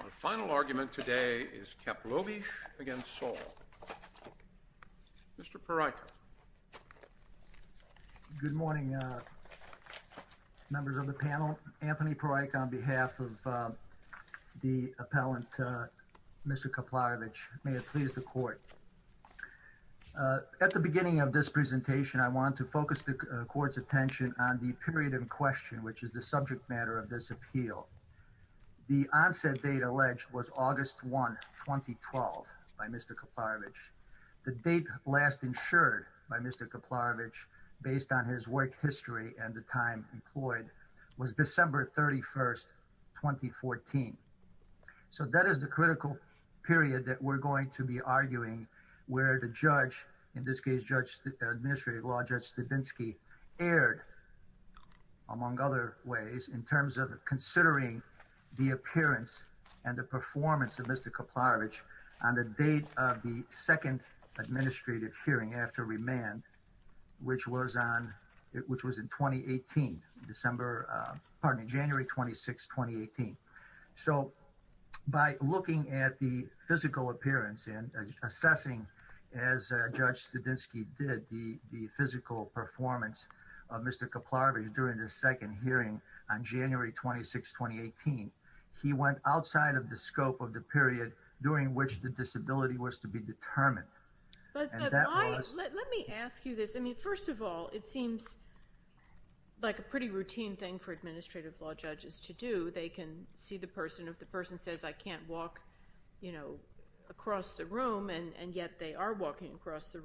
Our final argument today is Kaplovic against Saul. Mr. Parikh. Good morning members of the panel. Anthony Parikh on behalf of the appellant Mr. Kaplarevic. May it please the court. At the beginning of this presentation I want to focus the court's attention on the period of question which is the subject matter of this appeal. The onset date alleged was August 1, 2012 by Mr. Kaplarevic. The date last insured by Mr. Kaplarevic based on his work history and the time employed was December 31, 2014. So that is the critical period that we're going to be arguing where the judge in this considering the appearance and the performance of Mr. Kaplarevic on the date of the second administrative hearing after remand which was on it which was in 2018 December pardon January 26, 2018. So by looking at the physical appearance and assessing as Judge Studzinski did the physical performance of Mr. Kaplarevic during the second hearing on January 26, 2018 he went outside of the scope of the period during which the disability was to be determined. And that was. Let me ask you this I mean first of all it seems like a pretty routine thing for administrative law judges to do. They can see the person if the person says I can't walk you know across the room and yet they are walking across the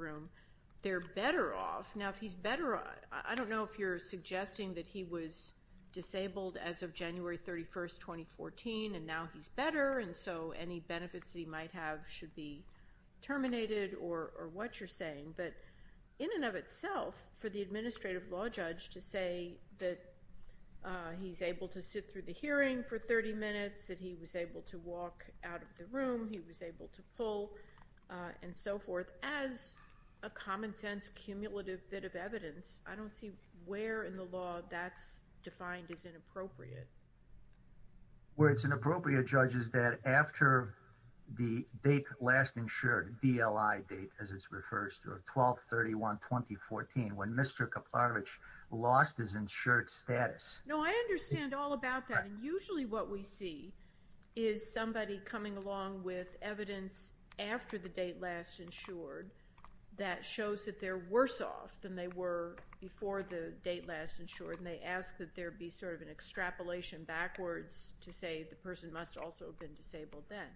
they're better off. Now if he's better I don't know if you're suggesting that he was disabled as of January 31, 2014 and now he's better and so any benefits he might have should be terminated or what you're saying. But in and of itself for the administrative law judge to say that he's able to sit through the hearing for 30 minutes that he was able to walk out of the room he was able to pull and so forth as a common-sense cumulative bit of evidence I don't see where in the law that's defined as inappropriate. Where it's inappropriate judge is that after the date last insured DLI date as it's refers to 12 31 2014 when Mr. Kaplarevic lost his insured status. No I understand all about that and usually what we see is somebody coming along with evidence after the date last insured that shows that they're worse off than they were before the date last insured and they ask that there be sort of an extrapolation backwards to say the person must also have been disabled then.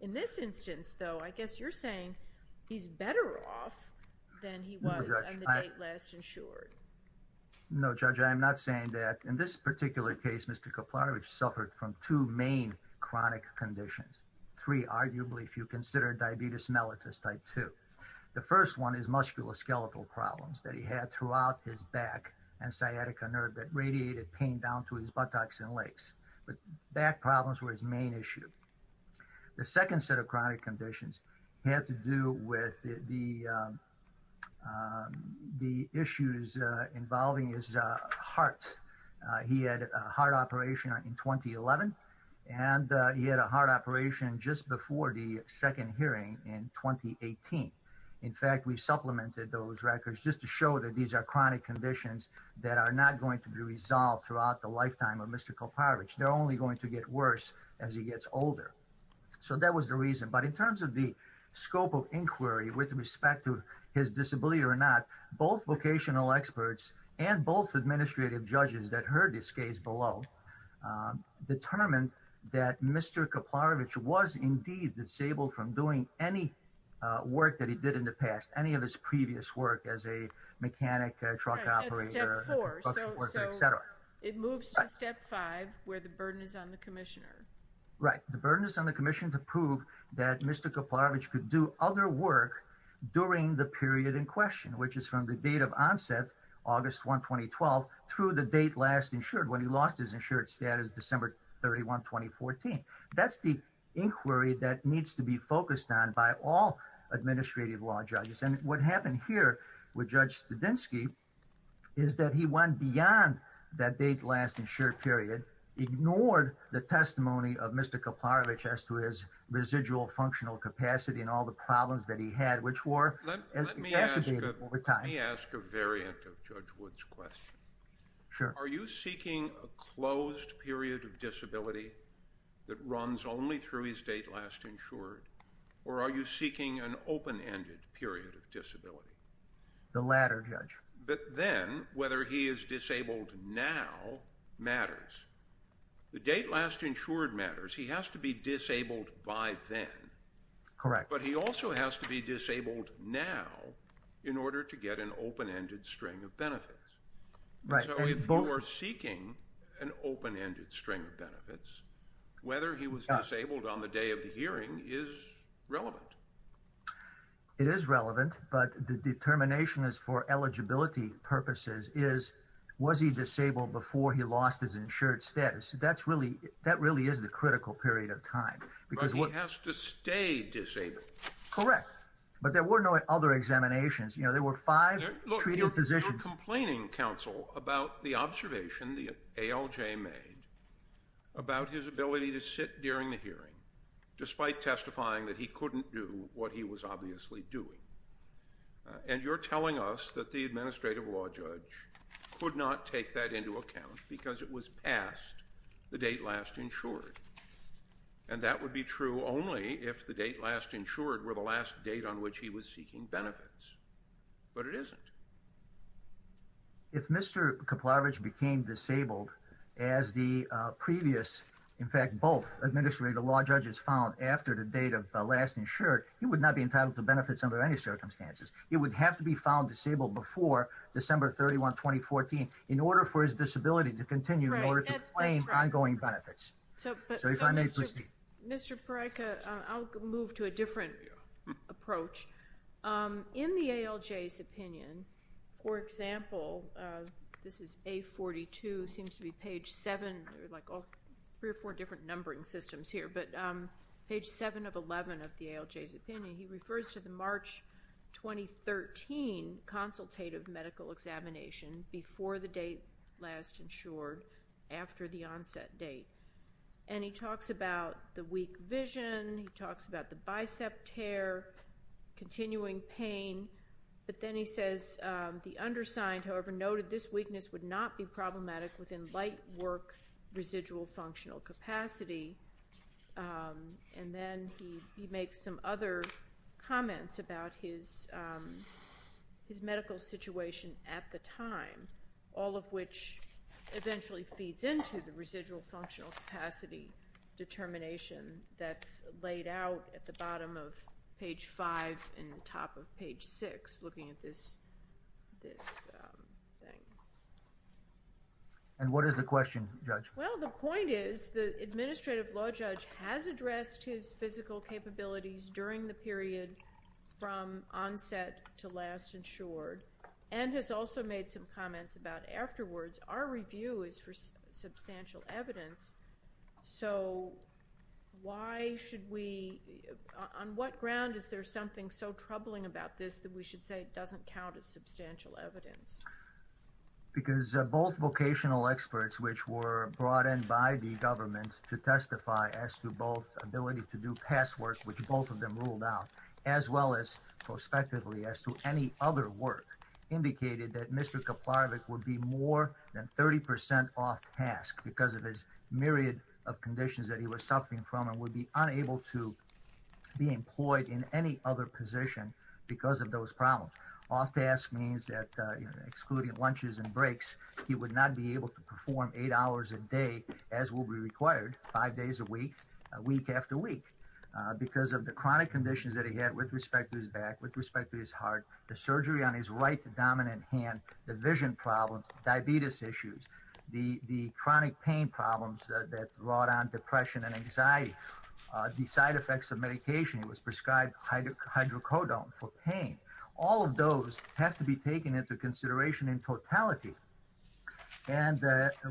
In this instance though I guess you're saying he's better off than he was on the date last insured. No judge I'm not saying that in this particular case Mr. Kaplarevic suffered from two main chronic conditions three arguably if you consider diabetes mellitus type two. The first one is musculoskeletal problems that he had throughout his back and sciatica nerve that radiated pain down to his buttocks and legs but back problems were his main issue. The second set of chronic conditions had to do with the issues involving his heart. He had a heart operation in 2011 and he had a heart operation just before the second hearing in 2018. In fact we supplemented those records just to show that these are chronic conditions that are not going to be resolved throughout the lifetime of Mr. Kaplarevic. They're only going to get worse as he gets older. So that was the reason but in terms of the scope of inquiry with respect to his disability or not both vocational experts and both administrative judges that heard this case below determined that Mr. Kaplarevic was indeed disabled from doing any work that he did in the past. Any of his previous work as a mechanic, truck operator, etc. It moves to step five where the burden is on the commissioner. Right. The burden is on the commission to prove that Mr. Kaplarevic could do other work during the period in question which is from the date of onset August 1, 2012 through the date last insured when he lost his insured status December 31, 2014. That's the inquiry that needs to be focused on by all administrative law judges. And what happened here with Judge Studzinski is that he went beyond that date last insured period, ignored the testimony of Mr. Kaplarevic as to his residual functional capacity and all the problems that he had which were exacerbated over time. Let me ask a variant of Judge Wood's question. Sure. Are you seeking a closed period of disability that runs only through his date last insured or are you seeking an open-ended period of disability? The latter, Judge. But then whether he is disabled now matters. The date last insured matters. He has to be disabled by then. Correct. But he also has to be disabled now in order to get an open-ended string of benefits. Right. So if you are seeking an open-ended string of benefits, whether he was disabled on the day of the hearing is relevant. It is relevant but the determination is for eligibility purposes is was he disabled before he lost his insured status. That really is the critical period of time. But he has to stay disabled. Correct. But there were no other examinations. There were five treated physicians. You're complaining, counsel, about the observation the ALJ made about his ability to sit during the hearing despite testifying that he couldn't do what he was obviously doing. And you're telling us that the administrative law judge could not take that into account because it was past the date last insured. And that would be true only if the date last insured were the last date on which he was seeking benefits. But it isn't. If Mr. Kuplarowicz became disabled as the previous, in fact, both administrative law judges found after the date of last insured, he would not be entitled to benefits under any circumstances. He would have to be found disabled before December 31, 2014 in order for his disability to continue in order to claim ongoing benefits. So if I may proceed. Mr. Paretka, I'll move to a different approach. In the ALJ's opinion, for example, this is A42, seems to be page 7, like three or four different numbering systems here, but page 7 of 11 of the ALJ's opinion, he refers to the March 2013 consultative medical examination before the date last insured after the onset date. And he talks about the weak vision. He talks about the bicep tear, continuing pain. But then he says the undersigned, however, noted this weakness would not be problematic within light work residual functional capacity. And then he makes some other comments about his medical situation at the time. All of which eventually feeds into the residual functional capacity determination that's laid out at the bottom of page 5 and top of page 6, looking at this thing. And what is the question, Judge? Well, the point is the administrative law judge has addressed his physical capabilities during the period from onset to last insured. And has also made some comments about afterwards. Our review is for substantial evidence. So why should we, on what ground is there something so troubling about this that we should say it doesn't count as substantial evidence? Because both vocational experts, which were brought in by the government to testify as to both ability to do past work, which both of them ruled out, as well as prospectively as to any other work, indicated that Mr. Kaplarovic would be more than 30% off task because of his myriad of conditions that he was suffering from and would be unable to be employed in any other position because of those problems. Off task means that, excluding lunches and breaks, he would not be able to perform eight hours a day, as will be required, five days a week, week after week. Because of the chronic conditions that he had with respect to his back, with respect to his heart, the surgery on his right dominant hand, the vision problems, diabetes issues, the chronic pain problems that brought on depression and anxiety, the side effects of medication, he was prescribed hydrocodone for pain. All of those have to be taken into consideration in totality. And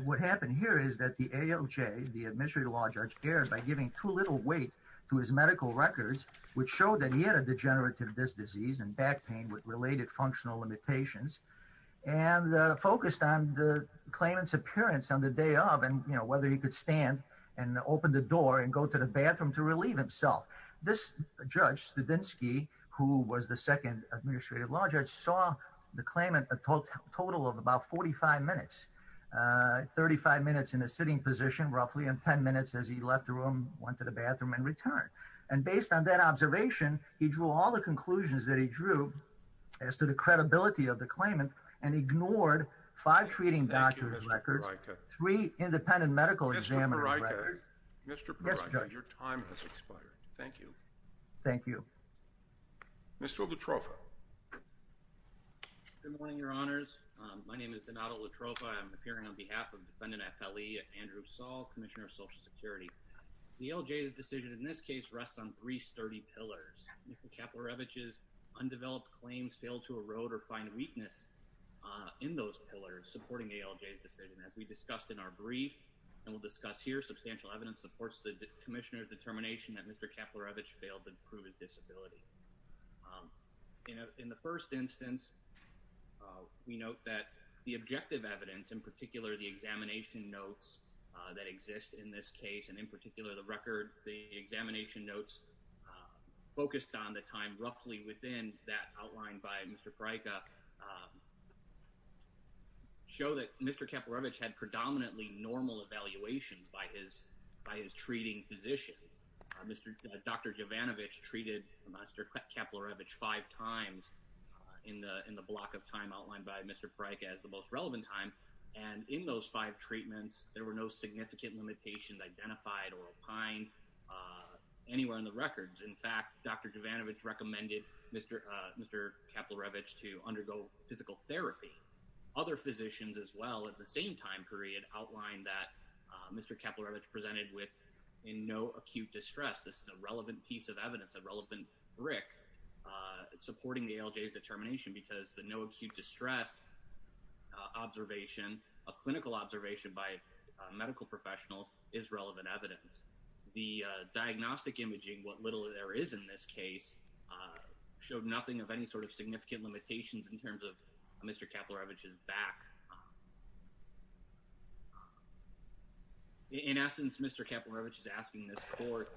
what happened here is that the ALJ, the Administrative Law Judge, erred by giving too little weight to his medical records, which showed that he had a degenerative disc disease and back pain with related functional limitations, and focused on the claimant's appearance on the day of and whether he could stand and open the door and go to the bathroom to relieve himself. This judge, Studinsky, who was the second Administrative Law Judge, saw the claimant a total of about 45 minutes, 35 minutes in a sitting position, roughly, and 10 minutes as he left the room, went to the bathroom and returned. And based on that observation, he drew all the conclusions that he drew as to the credibility of the claimant and ignored five treating doctor's records, three independent medical examiner records. Mr. Proctor, your time has expired. Thank you. Thank you. Mr. Latrofa. Good morning, Your Honors. My name is Donato Latrofa. I'm appearing on behalf of Defendant FLE, Andrew Saul, Commissioner of Social Security. The ALJ's decision in this case rests on three sturdy pillars. Mr. Kaplarevich's undeveloped claims fail to erode or find weakness in those pillars supporting the ALJ's decision. As we discussed in our brief, and we'll discuss here, substantial evidence supports the Commissioner's determination that Mr. Kaplarevich failed to prove his disability. In the first instance, we note that the objective evidence, in particular the examination notes that exist in this case, and in particular the record, the examination notes focused on the time roughly within that outlined by Mr. Frajka, show that Mr. Kaplarevich had predominantly normal evaluations by his treating physicians. Dr. Jovanovich treated Mr. Kaplarevich five times in the block of time outlined by Mr. Frajka as the most relevant time, and in those five treatments, there were no significant limitations identified or opined anywhere in the records. In fact, Dr. Jovanovich recommended Mr. Kaplarevich to undergo physical therapy. Other physicians as well at the same time period outlined that Mr. Kaplarevich presented with no acute distress. This is a relevant piece of evidence, a relevant brick supporting the ALJ's determination because the no acute distress observation, a clinical observation by medical professionals, is relevant evidence. The diagnostic imaging, what little there is in this case, showed nothing of any sort of significant limitations in terms of Mr. Kaplarevich's back. In essence, Mr. Kaplarevich is asking this court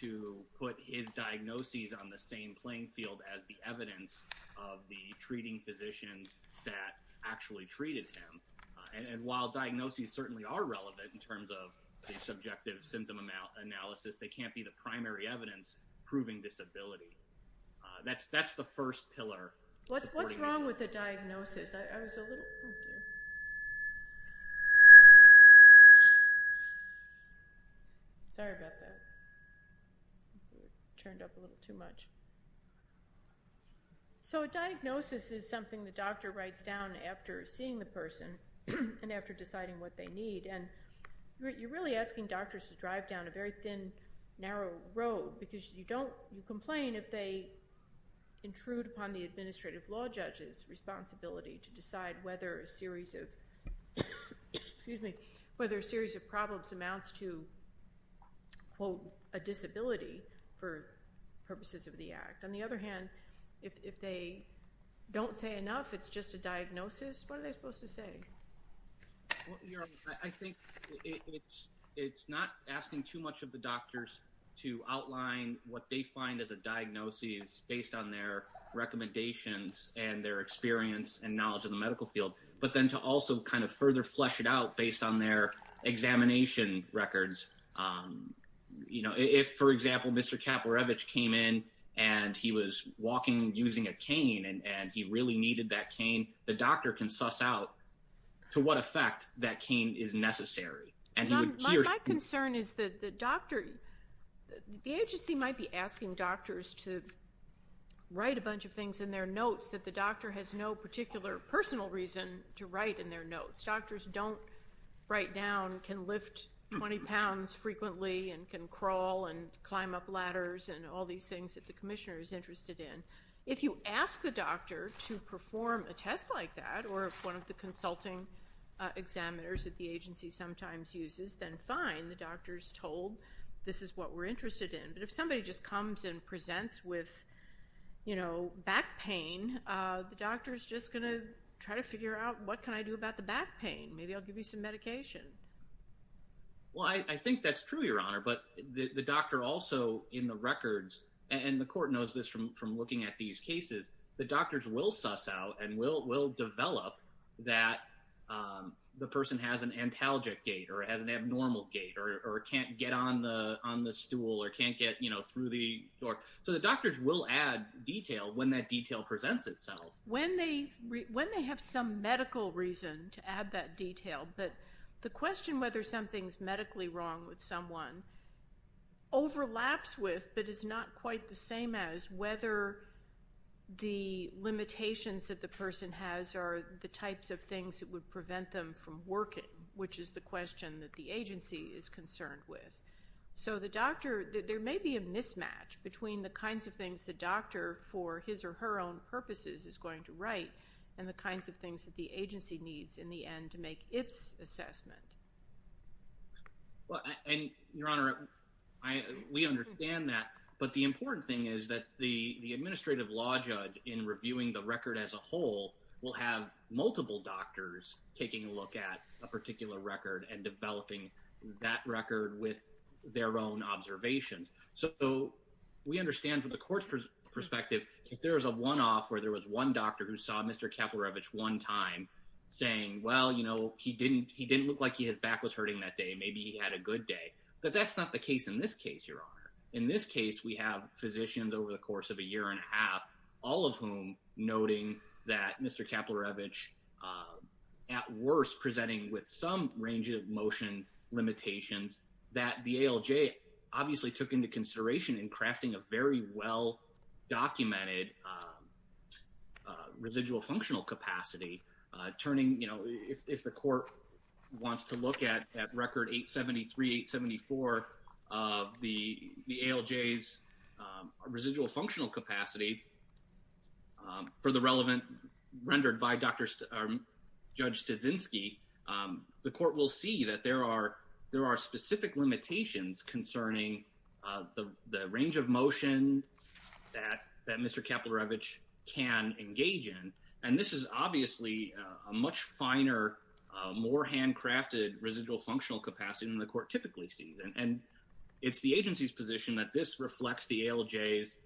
to put his diagnoses on the same playing field as the evidence of the treating physicians that actually treated him. And while diagnoses certainly are relevant in terms of the subjective symptom analysis, they can't be the primary evidence proving disability. That's the first pillar. What's wrong with a diagnosis? I was a little... Oh, dear. Sorry about that. Turned up a little too much. So a diagnosis is something the doctor writes down after seeing the person and after deciding what they need. And you're really asking doctors to drive down a very thin, narrow road because you complain if they intrude upon the administrative law judge's responsibility to decide whether a series of problems amounts to, quote, a disability for purposes of the act. On the other hand, if they don't say enough, it's just a diagnosis, what are they supposed to say? I think it's not asking too much of the doctors to outline what they find as a diagnosis based on their recommendations and their experience and knowledge of the medical field, but then to also kind of further flesh it out based on their examination records. If, for example, Mr. Kaporevich came in and he was walking using a cane and he really needed that cane, the doctor can suss out to what effect that cane is necessary. My concern is that the doctor... The agency might be asking doctors to write a bunch of things in their notes that the doctor has no particular personal reason to write in their notes. Doctors don't write down, can lift 20 pounds frequently and can crawl and climb up ladders and all these things that the commissioner is interested in. If you ask the doctor to perform a test like that or if one of the consulting examiners at the agency sometimes uses, then fine. The doctor is told this is what we're interested in. But if somebody just comes and presents with back pain, the doctor is just going to try to figure out what can I do about the back pain. Maybe I'll give you some medication. Well, I think that's true, Your Honor, but the doctor also in the records and the court knows this from looking at these cases, the doctors will suss out and will develop that the person has an antalgic gait or has an abnormal gait or can't get on the stool or can't get through the door. So the doctors will add detail when that detail presents itself. When they have some medical reason to add that detail, but the question whether something's medically wrong with someone overlaps with but is not quite the same as whether the limitations that the person has are the types of things that would prevent them from working, which is the question that the agency is concerned with. So the doctor, there may be a mismatch between the kinds of things the doctor for his or her own purposes is going to write and the kinds of things that the agency needs in the end to make its assessment. Well, Your Honor, we understand that, but the important thing is that the administrative law judge in reviewing the record as a whole will have multiple doctors taking a look at a particular record and developing that record with their own observations. So we understand from the court's perspective, if there is a one-off where there was one doctor who saw Mr. Kaplarevich one time saying, well, you know, he didn't look like his back was hurting that day, maybe he had a good day, but that's not the case in this case, Your Honor. In this case, we have physicians over the course of a year and a half, all of whom noting that Mr. Kaplarevich at worst presenting with some range of motion limitations that the ALJ obviously took into consideration in crafting a very well-documented residual functional capacity, turning, you know, if the court wants to look at record 873, 874, the ALJ's residual functional capacity for the relevant rendered by Judge Studzinski, the court will see that there are specific limitations concerning the range of motion that Mr. Kaplarevich can engage in, and this is obviously a much finer, more handcrafted residual functional capacity than the court typically sees. And it's the agency's position that this reflects the ALJ's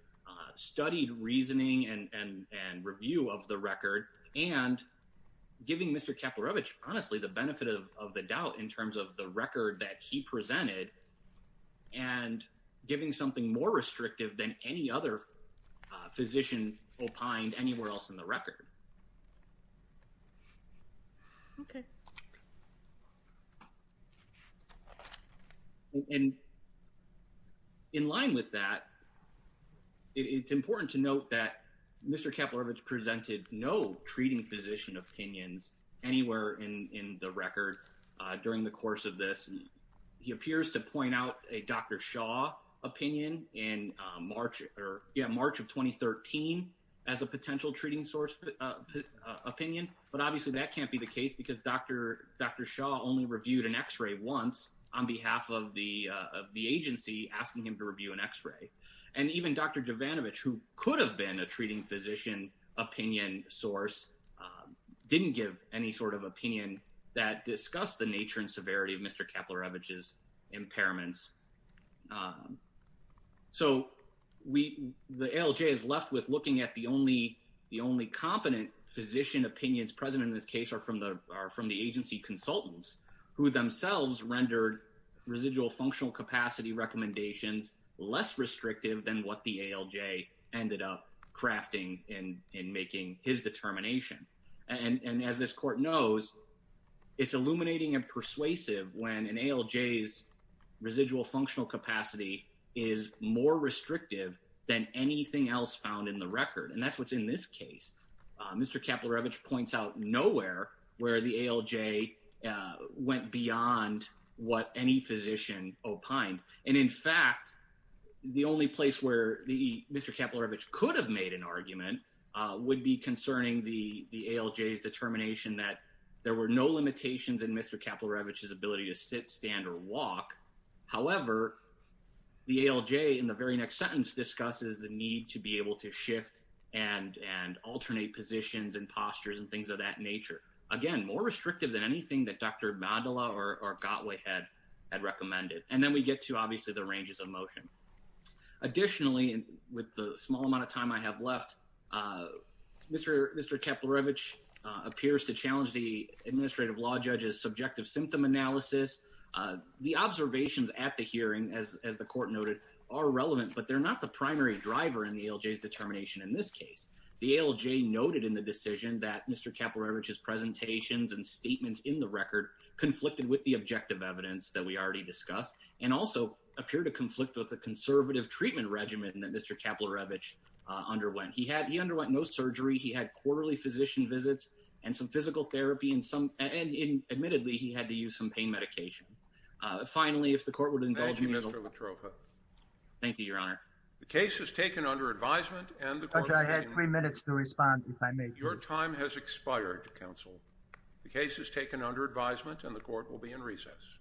studied reasoning and review of the record and giving Mr. Kaplarevich honestly the benefit of the doubt in terms of the record that he presented and giving something more restrictive than any other physician opined anywhere else in the record. Okay. And in line with that, it's important to note that Mr. Kaplarevich presented no treating physician opinions anywhere in the record during the course of this. He appears to point out a Dr. Shaw opinion in March of 2013 as a potential treating opinion, but obviously that can't be the case because Dr. Shaw only reviewed an X-ray once on behalf of the agency asking him to review an X-ray. And even Dr. Jovanovich, who could have been a treating physician opinion source, didn't give any sort of opinion that discussed the nature and severity of Mr. Kaplarevich's impairments. So the ALJ is left with looking at the only competent physician opinions present in this case are from the agency consultants who themselves rendered residual functional capacity recommendations less restrictive than what the ALJ ended up crafting in making his determination. And as this court knows, it's illuminating and persuasive when an ALJ's residual functional capacity is more restrictive than anything else found in the record. And that's what's in this case. Mr. Kaplarevich points out nowhere where the ALJ went beyond what any physician opined. And in fact, the only place where Mr. Kaplarevich could have made an argument would be concerning the ALJ's determination that there were no limitations in Mr. Kaplarevich's ability to sit, stand, or walk. However, the ALJ in the very next sentence discusses the need to be able to shift and alternate positions and postures and things of that nature. Again, more restrictive than anything that Dr. Mandala or Gottweil had recommended. And then we get to obviously the ranges of motion. Additionally, with the small amount of time I have left, Mr. Kaplarevich appears to challenge the administrative law judge's subjective symptom analysis. The observations at the hearing, as the court noted, are relevant, but they're not the primary driver in the ALJ's determination in this case. The ALJ noted in the decision that Mr. Kaplarevich's presentations and statements in the record conflicted with the objective evidence that we already discussed and also appear to conflict with the conservative treatment regimen that Mr. Kaplarevich underwent. He underwent no surgery. He had quarterly physician visits and some physical therapy. And admittedly, he had to use some pain medication. Finally, if the court would indulge me. Thank you, Mr. Latrofa. Thank you, Your Honor. The case is taken under advisement. Judge, I had three minutes to respond, if I may. Your time has expired, counsel. The case is taken under advisement and the court will be in recess.